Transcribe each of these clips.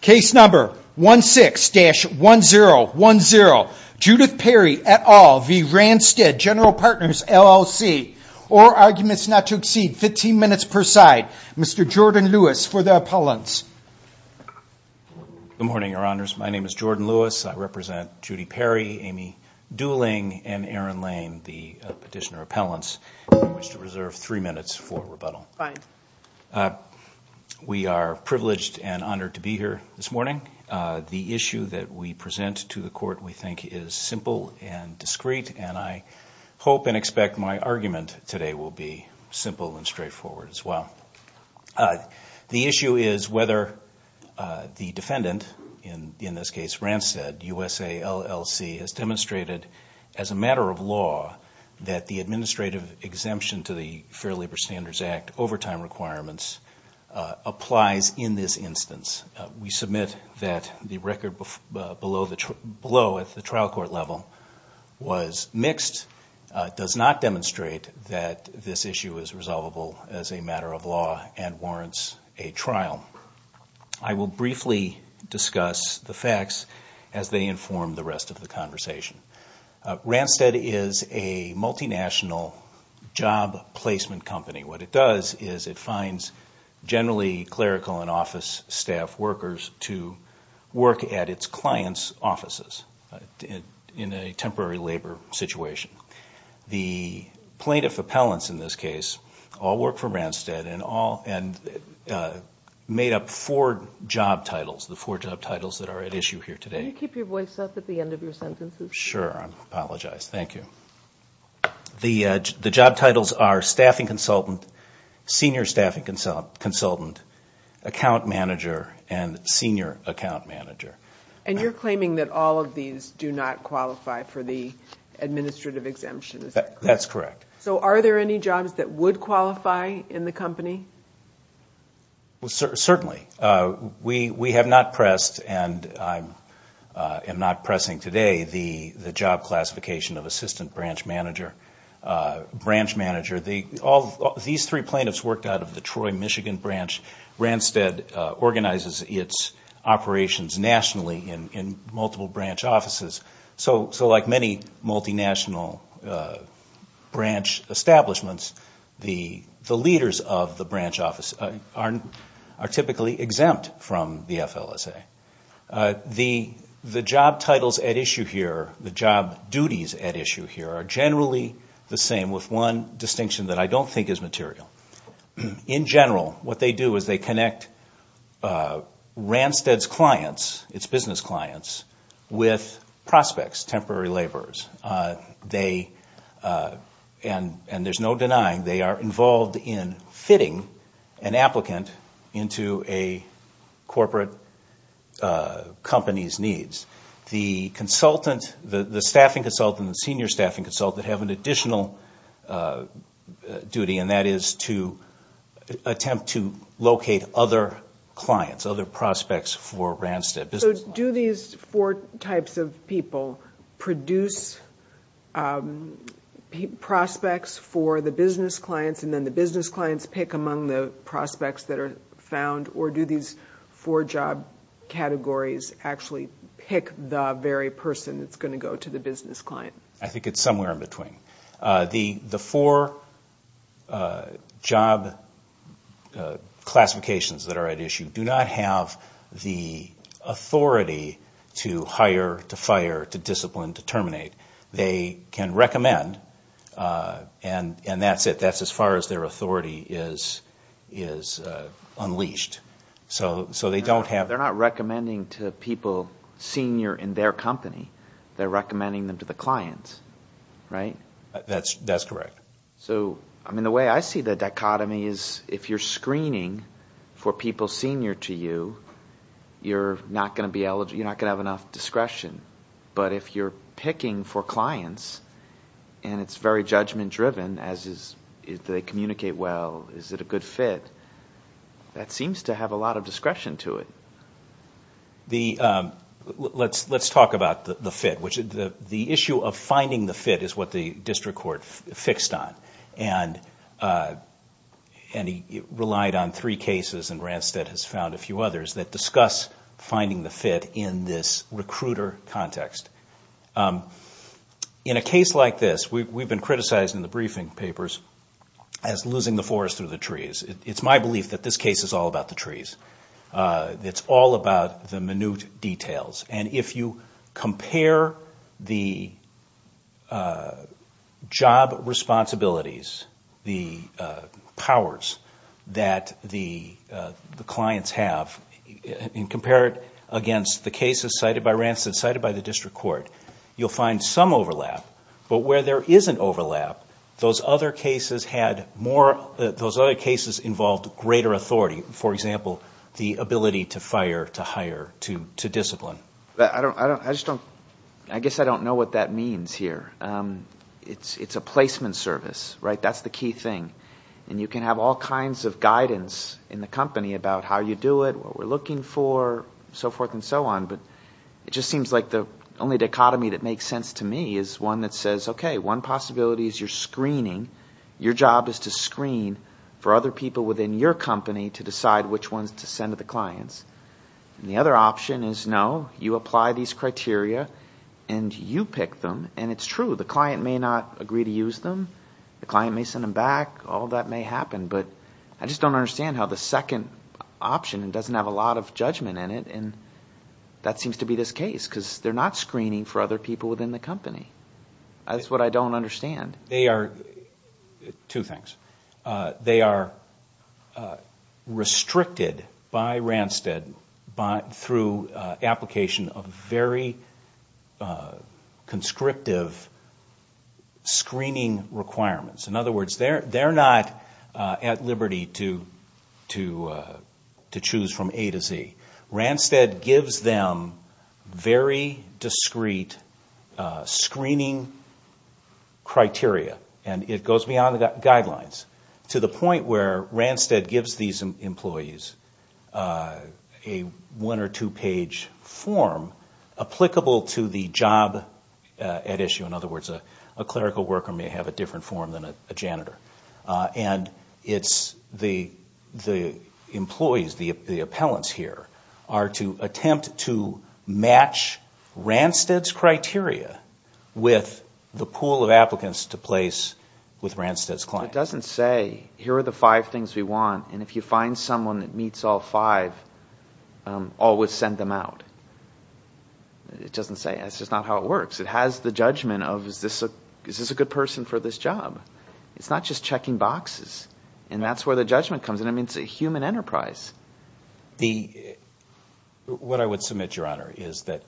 Case number 16-1010. Judith Perry et al v. Randstad Gen Partners LLC. All arguments not to exceed 15 minutes per side. Mr. Jordan Lewis for the appellants. Good morning, your honors. My name is Jordan Lewis. I represent Judy Perry, Amy Dooling, and Erin Lane, the petitioner appellants. I wish to reserve three minutes for rebuttal. We are privileged and honored to be here this morning. The issue that we present to the court we think is simple and discreet and I hope and expect my argument today will be simple and straightforward as well. The issue is whether the defendant, in this case Randstad USA LLC, has fair labor standards act overtime requirements applies in this instance. We submit that the record below at the trial court level was mixed, does not demonstrate that this issue is resolvable as a matter of law and warrants a trial. I will briefly discuss the facts as they inform the rest of the company. What it does is it finds generally clerical and office staff workers to work at its clients offices in a temporary labor situation. The plaintiff appellants in this case all work for Randstad and made up four job titles, the four job titles that are at issue here today. Can you keep your voice up at the end of your sentences? Sure, I apologize. Thank you. The job titles are staffing consultant, senior staffing consultant, account manager, and senior account manager. And you're claiming that all of these do not qualify for the administrative exemptions? That's correct. So are there any jobs that would qualify in the company? Certainly. We have not pressed and I am not pressing today the job classification of assistant branch manager. These three plaintiffs worked out of the Troy, Michigan branch. Randstad organizes its operations nationally in multiple branch offices. So like many multinational branch establishments, the leaders of the branch office are typically exempt from the FLSA. The job titles at issue here, the job duties at issue here, are generally the same with one distinction that I don't think is material. In general, what they do is they connect Randstad's clients, its business clients, with prospects, temporary laborers. And there's no denying they are involved in companies' needs. The staffing consultant and the senior staffing consultant have an additional duty, and that is to attempt to locate other clients, other prospects for Randstad business clients. So do these four types of people produce prospects for the business clients and then the business clients pick among the prospects that are found, or do these four job categories actually pick the very person that's going to go to the business client? I think it's somewhere in between. The four job classifications that are at issue do not have the authority to hire, to fire, to discipline, to terminate. They can recommend, and that's it. That's as far as their authority is unleashed. So they don't have... They're not recommending to people senior in their company. They're recommending them to the clients, right? That's correct. So, I mean, the way I see the dichotomy is if you're screening for people senior to you, you're not going to be eligible. You're not going to have enough discretion. But if you're picking for clients, and it's very judgment-driven, as is, if they communicate well, is it a good fit? That seems to have a lot of discretion to it. Let's talk about the fit. The issue of finding the fit is what the district court fixed on, and it relied on three cases, and Randstad has found a few that fit this recruiter context. In a case like this, we've been criticized in the briefing papers as losing the forest through the trees. It's my belief that this case is all about the trees. It's all about the minute details. And if you compare the job responsibilities, the powers that the clients have, and compare it against the cases cited by Randstad, cited by the district court, you'll find some overlap. But where there isn't overlap, those other cases had more, those other cases involved greater authority. For example, the ability to fire, to hire, to discipline. I just don't, I guess I don't know what that means here. It's a placement service, right? That's the key thing. And you can have all kinds of guidance in the company about how you do it, what we're looking for, so forth and so on. But it just seems like the only dichotomy that makes sense to me is one that says, okay, one possibility is your screening. Your job is to screen for other people within your company to decide which ones to send to the clients. And the other option is, no, you apply these criteria and you pick them. And it's true, the client may not agree to use them. The client may send them back. All that may be a second option and doesn't have a lot of judgment in it. And that seems to be this case because they're not screening for other people within the company. That's what I don't understand. They are, two things. They are restricted by Randstad through application of very conscriptive screening requirements. In other words, they're not at liberty to choose from A to Z. Randstad gives them very discreet screening criteria. And it goes beyond the guidelines to the point where Randstad gives these employees a one or two page form applicable to the job at issue. In other words, the employees, the appellants here, are to attempt to match Randstad's criteria with the pool of applicants to place with Randstad's client. It doesn't say, here are the five things we want. And if you find someone that meets all five, always send them out. It doesn't say. That's just not how it works. It has the judgment of, is this a good person for this job? It's not just checking boxes. And that's where the judgment comes in. I mean, it's a human enterprise. What I would submit, Your Honor, is that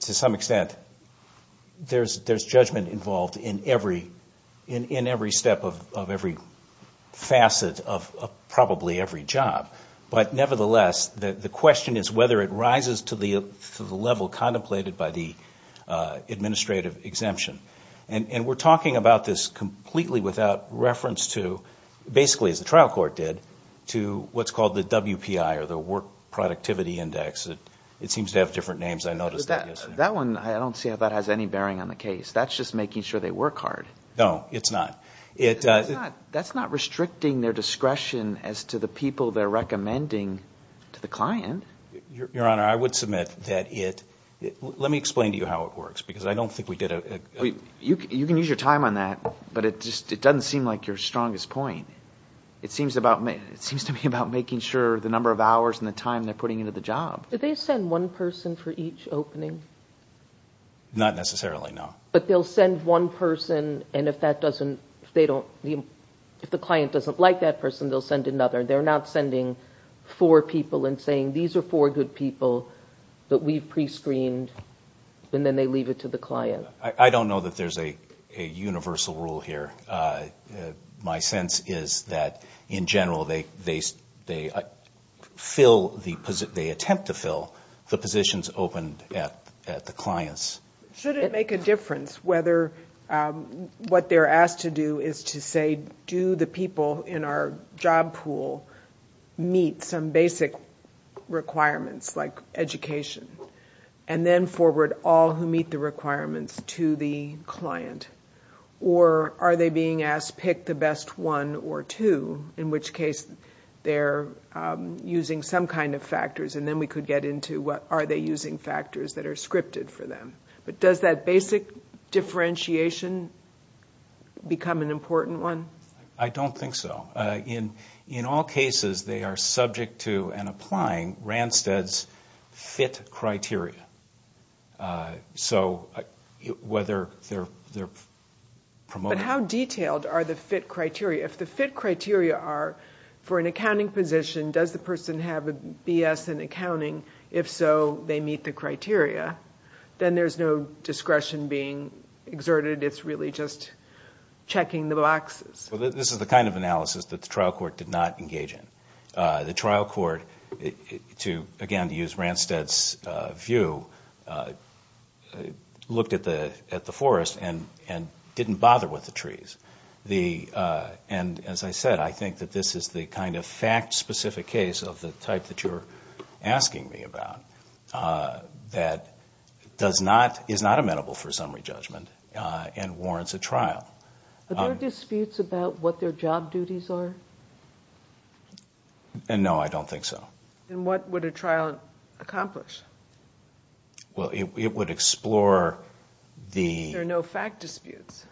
to some extent there's judgment involved in every step of every facet of probably every job. But nevertheless, the question is whether it rises to the level contemplated by the administrative exemption. And we're talking about this completely without reference to, basically as the trial court did, to what's called the WPI, or the Work Productivity Index. It seems to have different names. I noticed that yesterday. That one, I don't see how that has any bearing on the case. That's just making sure they work hard. No, it's not. That's not restricting their discretion as to the people they're recommending to the client. Your Honor, I would submit that it, let me explain to you how it works. Because I don't think we did a... You can use your time on that. But it doesn't seem like your strongest point. It seems to me about making sure the number of hours and the time they're putting into the job. Do they send one person for each opening? Not necessarily, no. But they'll send one person, and if the client doesn't like that person, they'll send another. They're not sending four people and saying, these are four good people that we've pre-screened, and then they leave it to the client. I don't know that there's a universal rule here. My sense is that, in general, they attempt to fill the positions opened at the clients. Should it make a difference whether what they're asked to do is to say, do the people in our job pool meet some basic requirements, like education, and then forward all who meet the requirements to the client? Or are they being asked, pick the best one or two, in which case they're using some kind of factors, and then we could get into, are they using factors that are scripted for them? But does that basic differentiation become an important one? I don't think so. In all cases, they are subject to and applying Randstad's FIT criteria. So whether they're promoting... But how detailed are the FIT criteria? If the FIT criteria are, for an accounting position, does the person have a BS in accounting? If so, they meet the criteria. Then there's no discretion being exerted. It's really just checking the boxes. This is the kind of analysis that the trial court did not engage in. The trial court, again, to use Randstad's view, looked at the forest and didn't bother with the trees. And as I said, I think that this is the kind of fact-specific case of the type that you're looking at that is not amenable for summary judgment and warrants a trial. Are there disputes about what their job duties are? No, I don't think so. What would a trial accomplish? It would explore the... There are no fact disputes.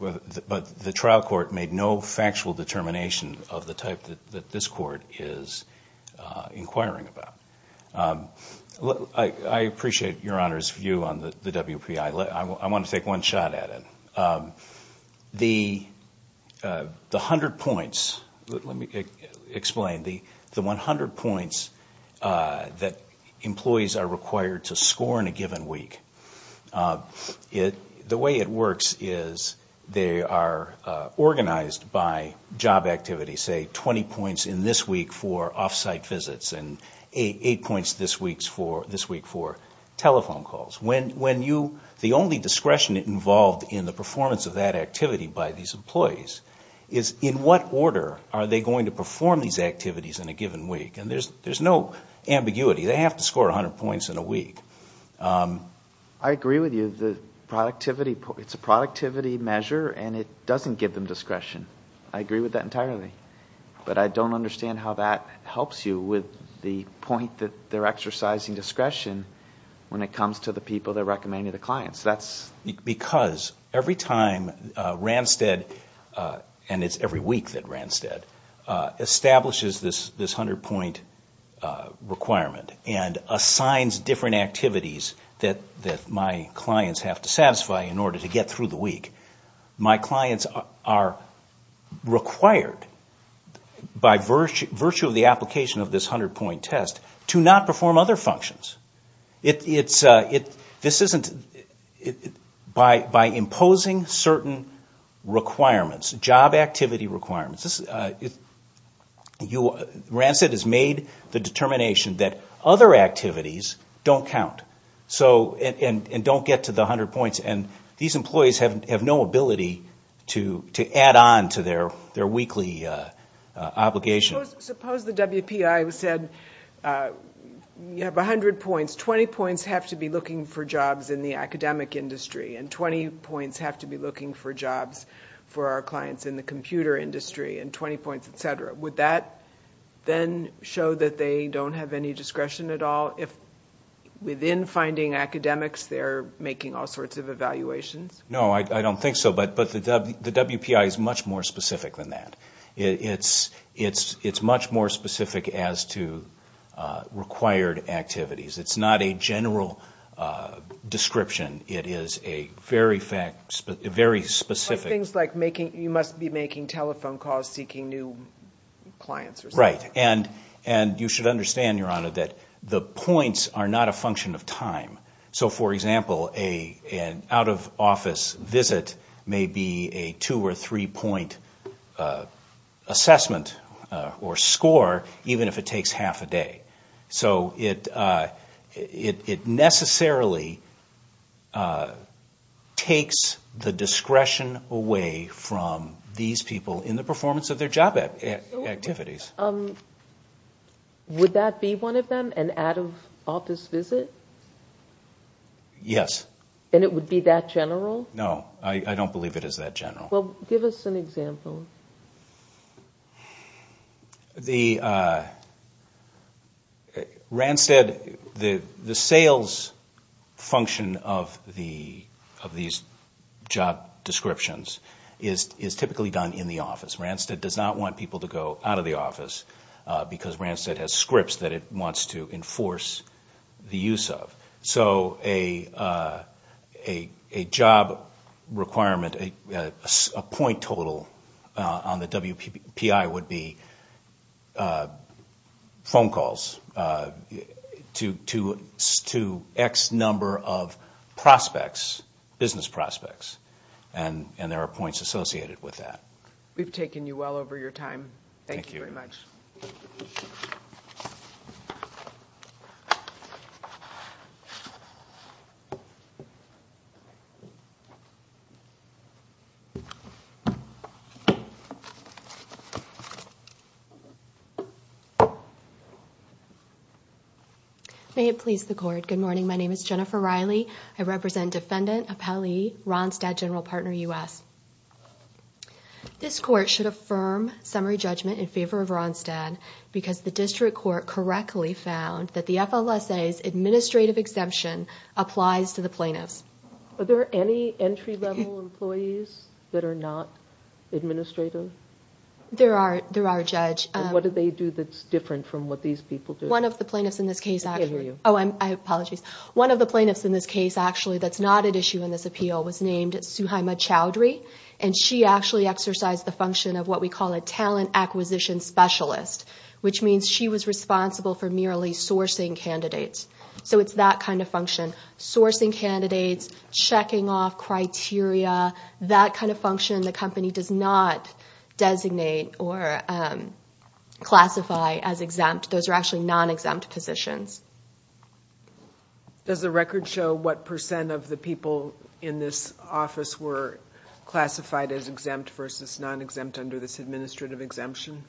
But the trial court made no factual determination of the type that this court is inquiring about. I appreciate Your Honor's view on the WPI. I want to take one shot at it. The 100 points that employees are required to score in a given week, the way it works is they are organized by job activity, say 20 points in this week for off-site visits and 8 points this week for telephone calls. The only discretion involved in the performance of that activity by these employees is in what order are they going to perform these activities in a given week. There's no ambiguity. They have to score 100 points in a week. I agree with you. It's a productivity measure and it doesn't give them discretion. I agree with that entirely. But I don't understand how that helps you with the point that they're exercising discretion when it comes to the people that are recommending the clients. Because every time Randstead, and it's every week that Randstead, establishes this 100 point requirement and assigns different activities that my clients have to satisfy in order to be required by virtue of the application of this 100 point test to not perform other functions. By imposing certain requirements, job activity requirements, Randstead has made the determination that other activities don't count and don't get to the 100 points. These employees have no ability to add on to their weekly obligation. Suppose the WPI said you have 100 points, 20 points have to be looking for jobs in the academic industry and 20 points have to be looking for jobs for our clients in the computer industry and 20 points, etc. Would that then show that they don't have any discretion at all if within finding academics they're making all sorts of evaluations? No, I don't think so. But the WPI is much more specific than that. It's much more specific as to required activities. It's not a general description. It is a very specific... Things like you must be making telephone calls seeking new clients or something. Right. And you should understand, Your Honor, that the points are not a function of time. For example, an out-of-office visit may be a two- or three-point assessment or score even if it takes half a day. It necessarily takes the discretion away from these people in the performance of their job activities. Yes. Would that be one of them, an out-of-office visit? Yes. And it would be that general? No, I don't believe it is that general. Give us an example. The sales function of these job descriptions is typically done in the office. Ranstead does not want people to go out of the office because Ranstead has scripts that it wants to enforce the use of. So a job requirement, a point total on the WPI would be phone calls to X number of prospects, business prospects. And there are points associated with that. We've taken you well over your time. Thank you very much. May it please the Court. Good morning. My name is Jennifer Riley. I represent Defendant Appellee Ranstead General Partner U.S. This Court should affirm summary judgment in favor of Ranstead because the District Court correctly found that the FLSA's administrative exemption applies to the plaintiffs. Are there any entry-level employees that are not administrative? There are, Judge. What do they do that's different from what these people do? One of the plaintiffs in this case actually, oh, I apologize. One of the plaintiffs in this case actually that's not at issue in this appeal was named Suhaima Chowdhury, and she actually exercised the function of what we call a talent acquisition specialist, which means she was responsible for merely sourcing candidates. So it's that kind of function. Sourcing candidates, checking off criteria, that kind of function the company does not designate or classify as exempt. Those are actually non-exempt positions. Does the record show what percent of the people in this office were classified as exempt versus non-exempt under this administrative exemption?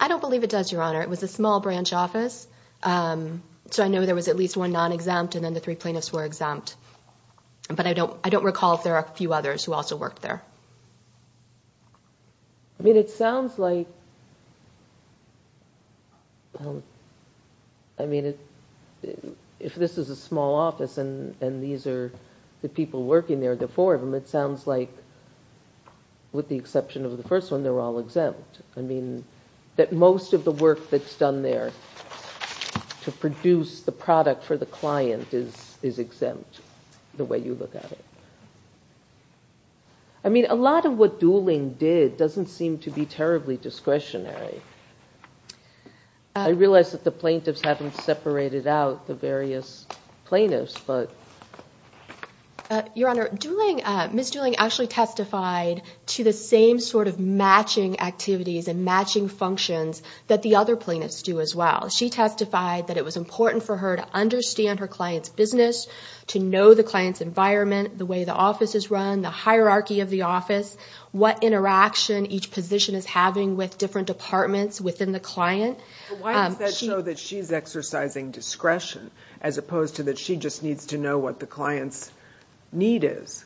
I don't believe it does, Your Honor. It was a small branch office, so I know there was at least one non-exempt, and then the three plaintiffs were exempt. But I don't recall if there are a few others who also worked there. I mean, it sounds like, I mean, it sounds like there are a lot of people who worked there. If this is a small office and these are the people working there, the four of them, it sounds like, with the exception of the first one, they're all exempt. I mean, that most of the work that's done there to produce the product for the client is exempt the way you look at it. I mean, a lot of what Dooling did doesn't seem to be terribly discretionary. I realize that the plaintiffs haven't separated out the various plaintiffs, but... Your Honor, Dooling, Ms. Dooling actually testified to the same sort of matching activities and matching functions that the other plaintiffs do as well. She testified that it was important for her to understand her client's business, to know the client's environment, the way the office is run, the hierarchy of the office, what interaction each position is having with different departments within the client. But why does that show that she's exercising discretion as opposed to that she just needs to know what the client's need is?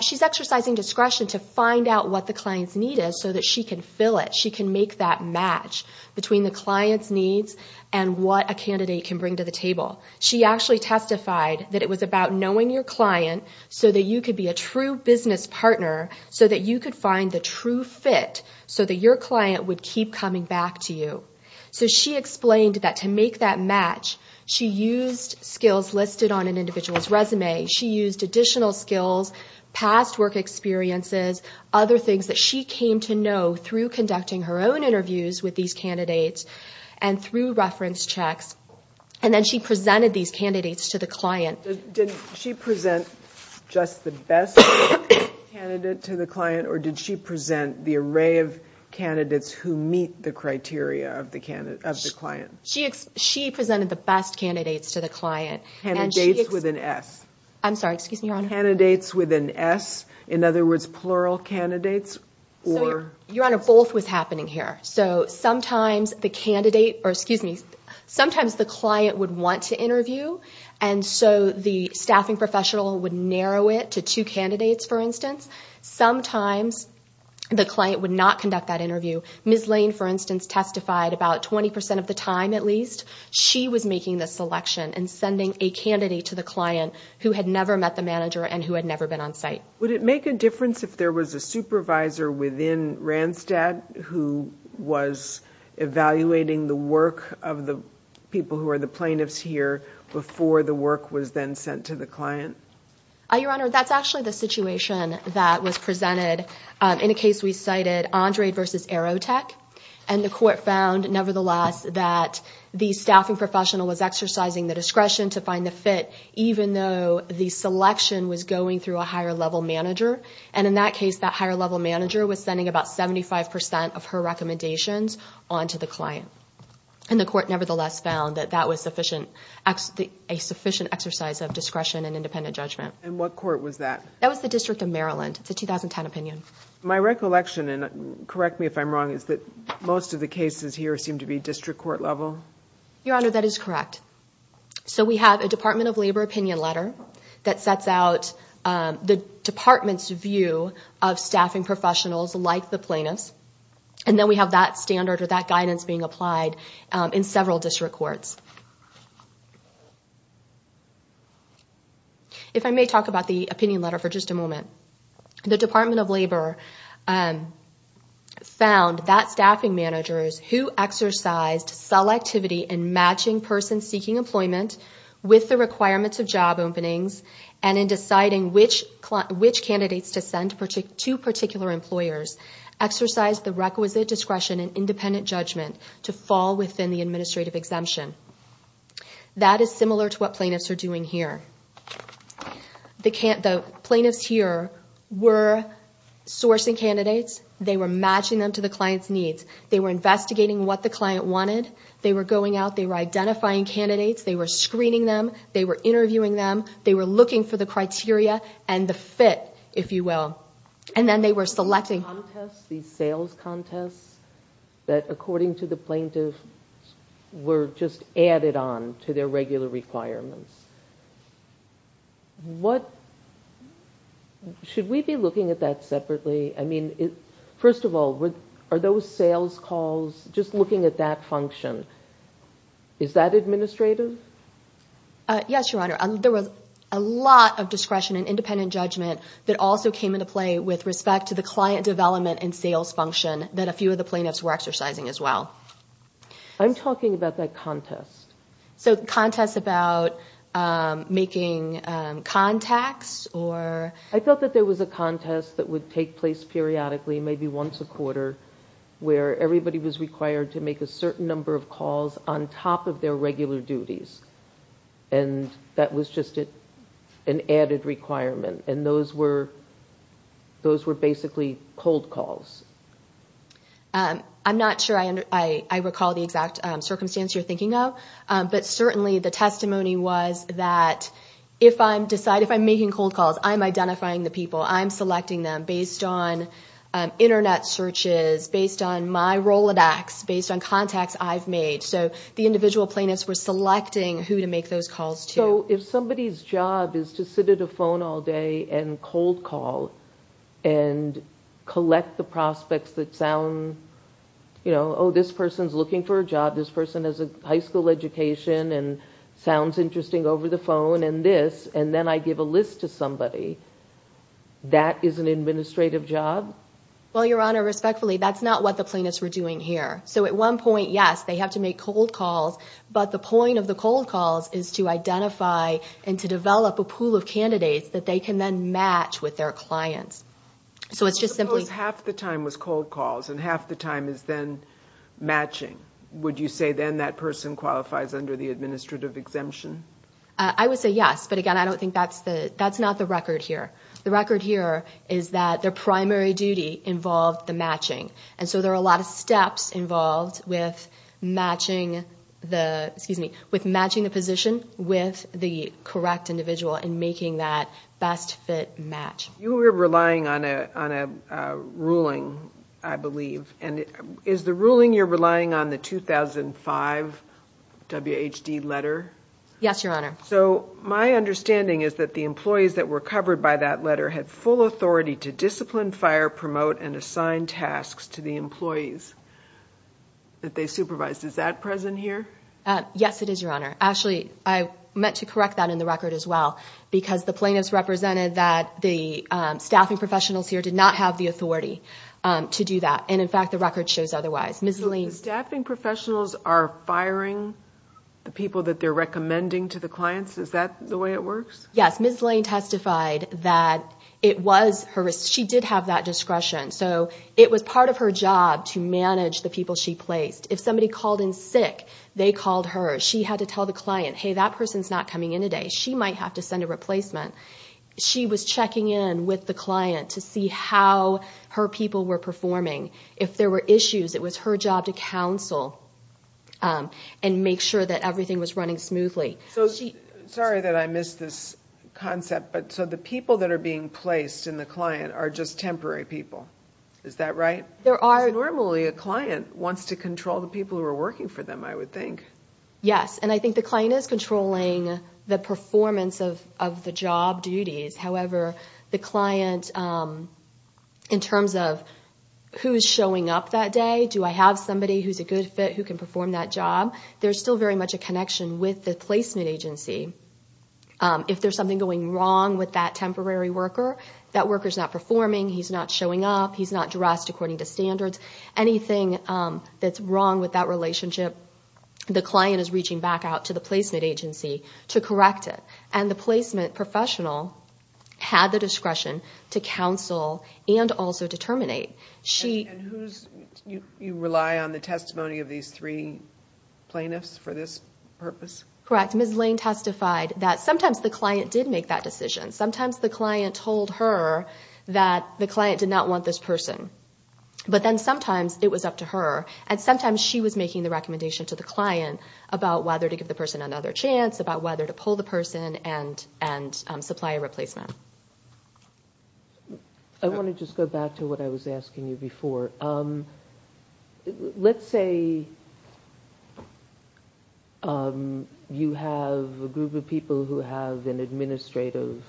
She's exercising discretion to find out what the client's need is so that she can fill it. She can make that match between the client's needs and what a candidate can bring to the table. She actually testified that it was about knowing your client so that you could be a true business partner, so that you could find the true fit, so that your client would keep coming back to you. So she explained that to make that match, she used skills listed on an individual's resume. She used additional skills, past work experiences, other things that she came to know through conducting her own interviews with these candidates and through reference checks. And then she presented these candidates to the client. Did she present just the best candidate to the client, or did she present the array of candidates that would meet the criteria of the client? She presented the best candidates to the client. Candidates with an S. I'm sorry, excuse me, Your Honor. Candidates with an S, in other words, plural candidates, or... Your Honor, both was happening here. So sometimes the client would want to interview, and so the staffing professional would narrow it to two candidates, for instance. Sometimes the client would not conduct that interview. Ms. Lane, for instance, testified about 20% of the time, at least. She was making the selection and sending a candidate to the client who had never met the manager and who had never been on site. Would it make a difference if there was a supervisor within Randstad who was evaluating the work of the people who are the plaintiffs here before the work was then sent to the client? Your Honor, that's actually the situation that was presented. In a case we cited, Andrade versus Aerotech, and the court found, nevertheless, that the staffing professional was exercising the discretion to find the fit, even though the selection was going through a higher-level manager. And in that case, that higher-level manager was sending about 75% of her recommendations onto the client. And the court, nevertheless, found that that was a sufficient exercise of discretion and independent judgment. And what court was that? That was the District of Maryland. It's a 2010 opinion. My recollection, and correct me if I'm wrong, is that most of the cases here seem to be district court-level? Your Honor, that is correct. So we have a Department of Labor opinion letter that sets out the department's view of staffing professionals like the plaintiffs. And then we have that guidance being applied in several district courts. If I may talk about the opinion letter for just a moment. The Department of Labor found that staffing managers who exercised selectivity in matching person-seeking employment with the requirements of job openings, and in deciding which candidates to send to particular employers, exercised the requisite discretion and independent judgment to fall within the administrative exemption. That is similar to what plaintiffs are doing here. The plaintiffs here were sourcing candidates. They were matching them to the client's needs. They were investigating what the client wanted. They were going out. They were identifying candidates. They were screening them. They were interviewing them. They were looking for the criteria and the fit, if you will. And then they were selecting... These contests, these sales contests, that according to the plaintiffs were just added on to their regular requirements. Should we be looking at that separately? I mean, first of all, are those sales calls just looking at that function? Is that administrative? Yes, Your Honor. There was a lot of discretion and independent judgment that also came into play with respect to the client development and sales function that a few of the plaintiffs were exercising as well. I'm talking about that contest. So contests about making contacts or... I felt that there was a contest that would take place periodically, maybe once a quarter, where everybody was required to make a certain number of calls on top of their regular duties. And that was just an added requirement. And those were basically cold calls. I'm not sure I recall the exact circumstance you're thinking of, but certainly the testimony was that if I decide, if I'm making cold calls, I'm identifying the people. I'm selecting them based on Internet searches, based on my Rolodex, based on contacts I've made. So the individual plaintiffs were selecting who to make those calls to. So if somebody's job is to sit at a phone all day and cold call and collect the prospects that sound, you know, oh, this person's looking for a job, this person has a high school education and sounds interesting over the phone and this, and then I give a list to somebody, that is an administrative job? Well, Your Honor, respectfully, that's not what the plaintiffs were doing here. So at one point, yes, they have to make cold calls, but the point of the cold calls is to identify and to develop a pool of candidates that they can then match with their clients. So let's suppose half the time was cold calls and half the time is then matching. Would you say then that person qualifies under the administrative exemption? I would say yes, but again, I don't think that's the, that's not the record here. The record here is that their primary duty involved the matching. And so there are a lot of steps involved with matching the, excuse me, with matching the position with the correct individual and making that best fit match. You were relying on a, on a ruling, I believe, and is the ruling you're relying on the 2005 WHD letter? Yes, Your Honor. So my understanding is that the employees that were covered by that letter had full that they supervised. Is that present here? Yes, it is, Your Honor. Actually, I meant to correct that in the record as well, because the plaintiffs represented that the staffing professionals here did not have the authority to do that. And in fact, the record shows otherwise. So the staffing professionals are firing the people that they're recommending to the clients? Is that the way it works? Yes. Ms. Lane testified that it was her, she did have that discretion. So it was part of her job to manage the people she placed. If somebody called in sick, they called her. She had to tell the client, hey, that person's not coming in today. She might have to send a replacement. She was checking in with the client to see how her people were performing. If there were issues, it was her job to counsel and make sure that everything was running smoothly. So she, sorry that I missed this concept, but so the people that are being placed in the client are just temporary people. Is that right? There are. Normally a client wants to control the people who are working for them, I would think. Yes. And I think the client is controlling the performance of the job duties. However, the client, in terms of who's showing up that day, do I have somebody who's a good fit who can perform that job? There's still very much a connection with the placement agency. If there's something going wrong with that temporary worker, that worker's not performing, he's not showing up, he's not dressed according to standards, anything that's wrong with that relationship, the client is reaching back out to the placement agency to correct it. And the placement professional had the discretion to counsel and also determinate. You rely on the testimony of these three plaintiffs for this purpose? Correct. Ms. Lane testified that sometimes the client did make that decision. Sometimes the client told her that the client did not want this person. But then sometimes it was up to her. And sometimes she was making the recommendation to the client about whether to give the person another chance, about whether to pull the person and supply a replacement. I want to just go back to what I was asking you before. Let's say you have a group of people who have an administrative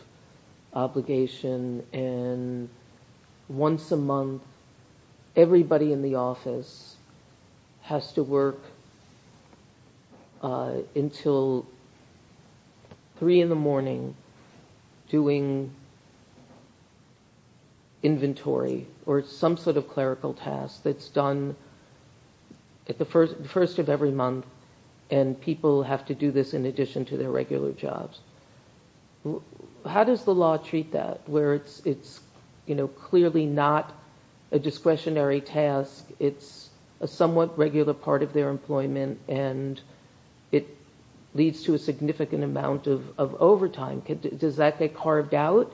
obligation and once a month everybody in the office has to work until 3 in the morning doing inventory or some sort of clerical task that's done at the first of every month and people have to do this in addition to their regular jobs. How does the law treat that? Where it's clearly not a discretionary task, it's a somewhat regular part of their employment and it leads to a significant amount of overtime. Does that get carved out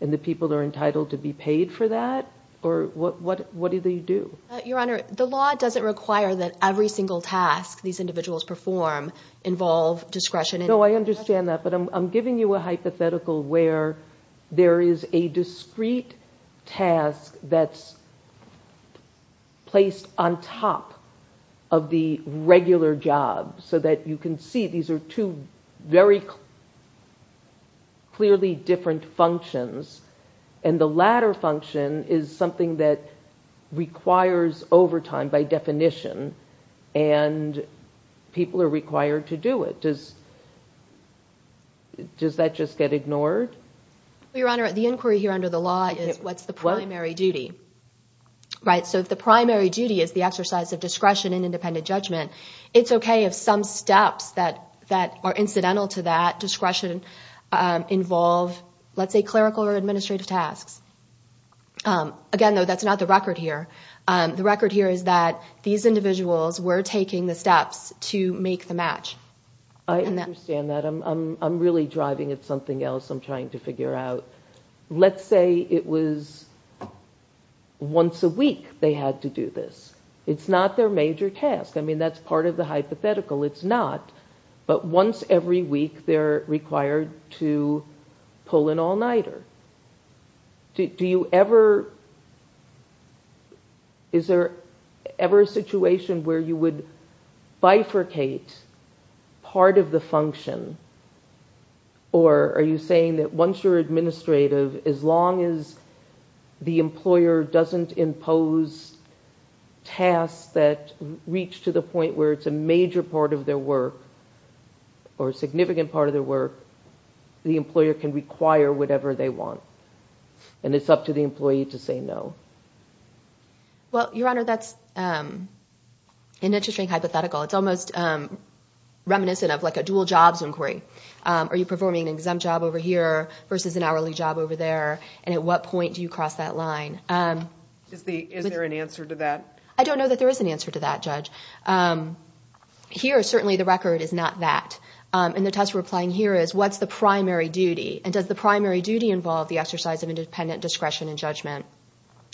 and the people are entitled to be paid for that? Or what do they do? Your Honor, the law doesn't require that every single task these individuals perform involve discretion. No, I understand that. But I'm giving you a hypothetical where there is a discrete task that's placed on top of the regular job so that you can see these are two very clearly different functions and the latter function is something that requires overtime by definition and people are required to do it. Does that just get ignored? The inquiry here under the law is what's the primary duty. So if the primary duty is the exercise of discretion and independent judgment, it's okay if some steps that are incidental to that discretion involve, let's say, clerical or administrative tasks. Again, though, that's not the record here. The record here is that these individuals were taking the steps to make the match. I understand that. I'm really driving at something else I'm trying to figure out. Let's say it was once a week they had to do this. It's not their major task. I mean, that's part of the hypothetical. It's not. But once every week they're required to pull an all-nighter. Do you ever, is there ever a situation where you would bifurcate part of the function or are you saying that once you're administrative, as long as the employer doesn't impose tasks that reach to the point where it's a major part of their work or a significant part of their work, the employer can require whatever they want and it's up to the employee to say no? Well, Your Honor, that's an interesting hypothetical. It's almost reminiscent of like a dual jobs inquiry. Are you performing an exempt job over here versus an hourly job over there and at what point do you cross that line? Is there an answer to that? I don't know that there is an answer to that, Judge. Here, certainly the record is not that. And the test we're applying here is what's the primary duty and does the primary duty involve the exercise of independent discretion and judgment?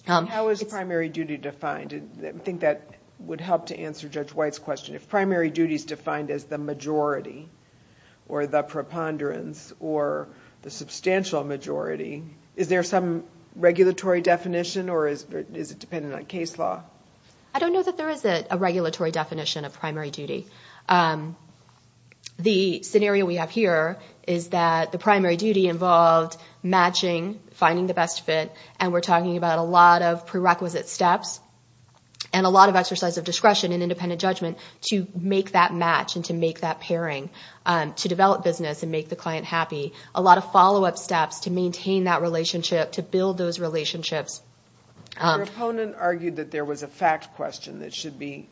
How is primary duty defined? I think that would help to answer Judge White's question. If primary duty is defined as the majority or the preponderance or the substantial majority, is there some regulatory definition or is it dependent on case law? I don't know that there is a regulatory definition of primary duty. The scenario we have here is that the primary duty involved matching, finding the best fit, and we're talking about a lot of prerequisite steps and a lot of exercise of discretion and independent judgment to make that match and to make that pairing to develop business and make the client happy. A lot of follow-up steps to maintain that relationship, to build those relationships. Your opponent argued that there was a fact question that should be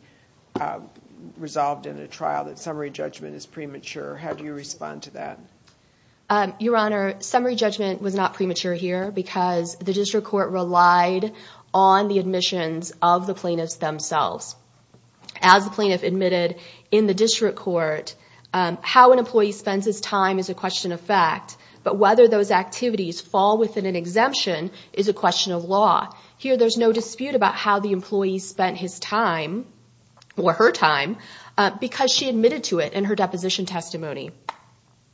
resolved in a trial that summary judgment is premature. How do you respond to that? Your Honor, summary judgment was not premature here because the District Court relied on the admissions of the plaintiffs themselves. As the plaintiff admitted in the District Court, how an employee spends his time is a question of fact, but whether those activities fall within an exemption is a question of law. Here, there's no dispute about how the employee spent his time or her time because she admitted to it in her deposition testimony.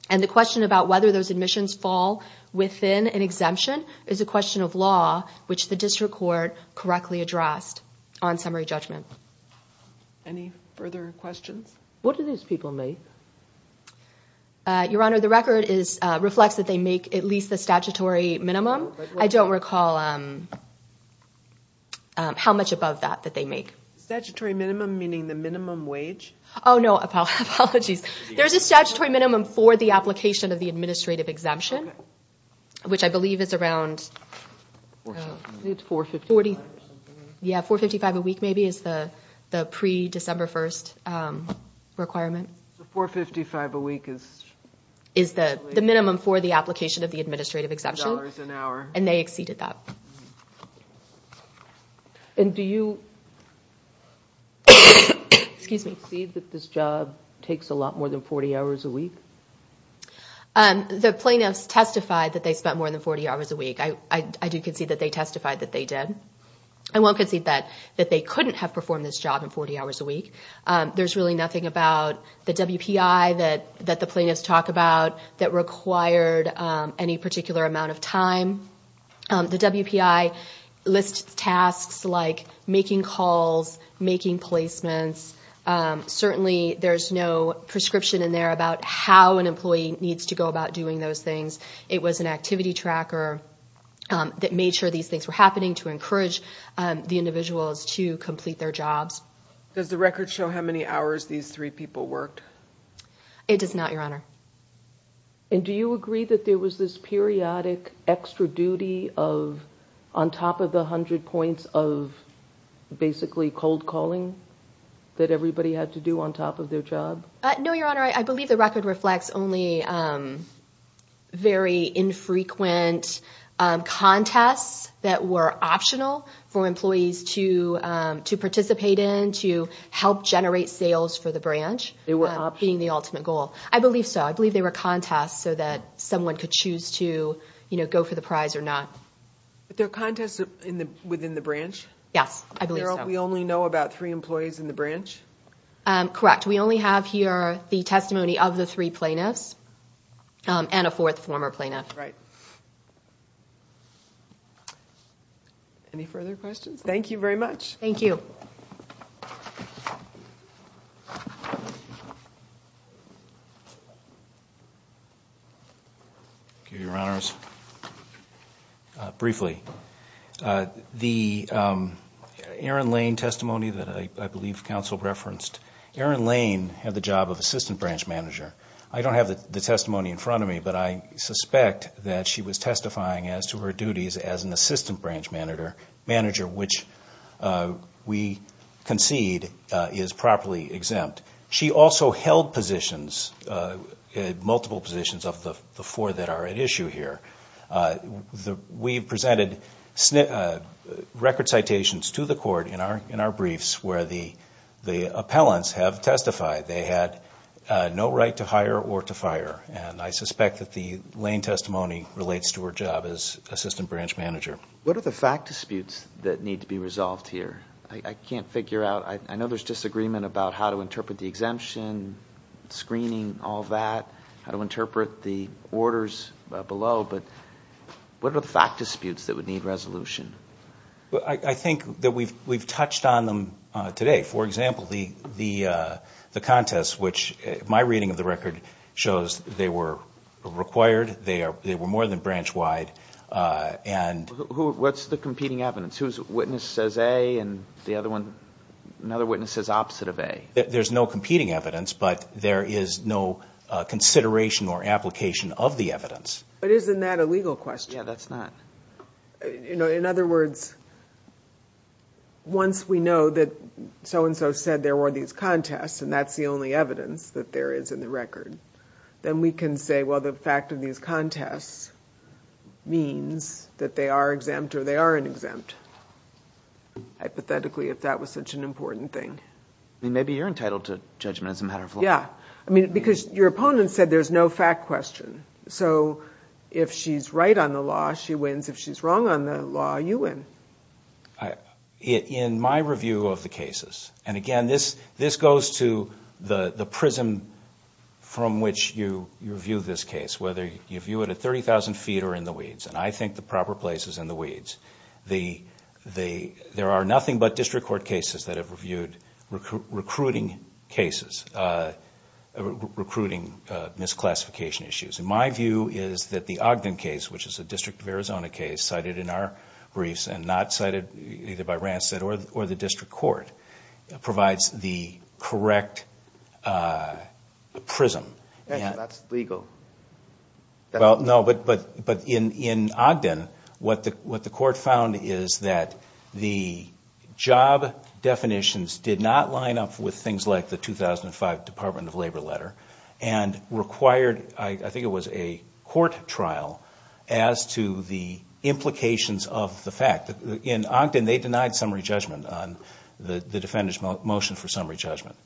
The question about whether those admissions fall within an exemption is a question of law, which the District Court correctly addressed on summary judgment. Any further questions? What do these people make? Your Honor, the record reflects that they make at least the statutory minimum. I don't recall how much above that that they make. Statutory minimum meaning the minimum wage? Oh, no. Apologies. There's a statutory minimum for the application of the administrative exemption, which I believe is around $455 a week. The $455 a week is the minimum for the application of the administrative exemption. And they exceeded that. And do you concede that this job takes a lot more than 40 hours a week? The plaintiffs testified that they spent more than 40 hours a week. I do concede that they couldn't have performed this job in 40 hours a week. There's really nothing about the WPI that the plaintiffs talk about that required any particular amount of time. The WPI lists tasks like making calls, making placements. Certainly, there's no prescription in there about how an employee needs to go about doing those things. It was an activity Does the record show how many hours these three people worked? It does not, Your Honor. And do you agree that there was this periodic extra duty on top of the 100 points of basically cold calling that everybody had to do on top of their job? No, Your Honor. I believe the record reflects only very infrequent contests that were optional for employees to participate in, to help generate sales for the branch, being the ultimate goal. I believe so. I believe they were contests so that someone could choose to go for the prize or not. But there are contests within the branch? Yes, I believe so. We only know about three employees in the branch? Correct. We only have here the testimony of the three plaintiffs and a fourth former plaintiff. Right. Any further questions? Thank you very much. Thank you. Thank you, Your Honors. Briefly, the Aaron Lane testimony that I believe counsel referenced, Aaron Lane had the job of assistant branch manager. I don't have the testimony in front of me, but I suspect that she was testifying as to her duties as an assistant branch manager, which we concede is properly exempt. She also held multiple positions of the four that are at issue here. We presented record citations to the court in our briefs where the appellants have testified. They had no right to hire or to fire, and I suspect that the Lane testimony relates to her job as assistant branch manager. What are the fact disputes that need to be resolved here? I can't figure out. I know there's disagreement about how to interpret the exemption, screening, all that, how to interpret the orders below, but what are the fact disputes that would need resolution? I think that we've touched on them today. For example, the contest, which my reading of the record shows they were required. They were more than branch wide. What's the competing evidence? Whose witness says A and another witness says opposite of A? There's no competing evidence, but there is no consideration or application of the evidence. But isn't that a legal question? Yeah, that's not. In other words, once we know that so-and-so said there were these contests, and that's the only evidence that there is in the record, then we can say, well, the fact of these contests means that they are exempt or they aren't exempt. Hypothetically, if that was such an important thing. Maybe you're entitled to judgment as a matter of law. Yeah, because your opponent said there's no fact question. So if she's right on the law, she wins. If she's wrong on the law, you win. In my review of the cases, and again, this goes to the prism from which you view this case, whether you view it at 30,000 feet or in the weeds, and I think the proper place is in the weeds. There are nothing but district court cases that have reviewed recruiting cases, recruiting misclassification issues. My view is that the Ogden case, which is a District of Arizona case cited in our briefs and not cited either by Rancid or the district court, provides the correct prism. That's legal. No, but in Ogden, what the court found is that the job definitions did not line up with things like the 2005 Department of Labor letter and required, I think it was a court trial, as to the implications of the fact. In Ogden, they denied summary judgment on the defendant's motion for summary judgment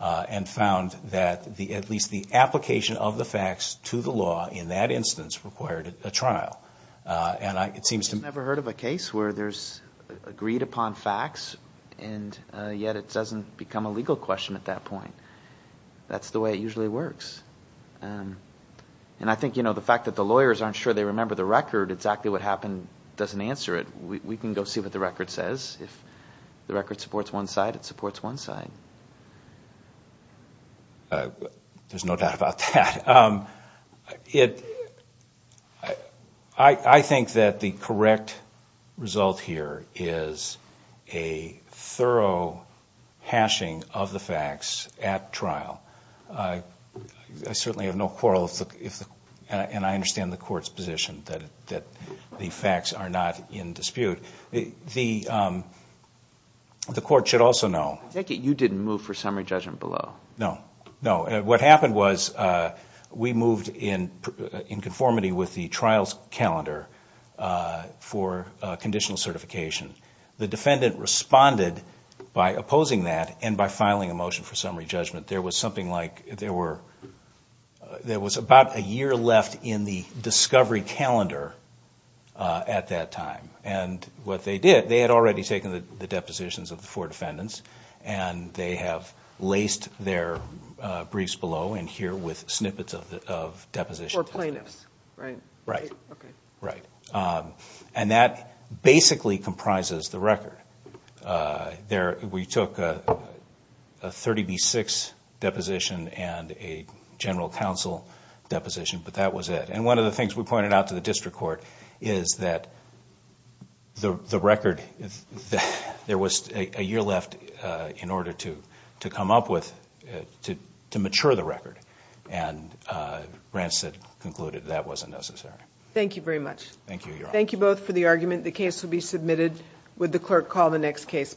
and found that at least the application of the facts to the law in that instance required a trial. I've never heard of a case where there's agreed upon facts, and yet it doesn't become a legal question at that point. That's the way it usually works. And I think the fact that the lawyers aren't sure they remember the record, exactly what happened doesn't answer it. We can go see what the record says. If the record supports one side, it supports one side. There's no doubt about that. I think that the correct result here is a thorough hashing of the facts at trial. I certainly have no quarrel, and I understand the court's position that the facts are not in dispute. The court should also know. You didn't move for summary judgment below. No, no. What happened was we moved in conformity with the trial's calendar for conditional certification. The defendant responded by opposing that and by filing a motion for summary judgment. There was something like there was about a year left in the discovery calendar at that time. And what they did, they had already taken the depositions of the four defendants, and they have laced their briefs below in here with snippets of depositions. For plaintiffs, right? Right. Okay. Right. And that basically comprises the record. We took a 30B6 deposition and a general counsel deposition, but that was it. And one of the things we pointed out to the district court is that the record, there was a year left in order to come up with, to mature the record. And Rancid concluded that wasn't necessary. Thank you very much. Thank you, Your Honor. Thank you both for the argument. The case will be submitted with the clerk call the next case.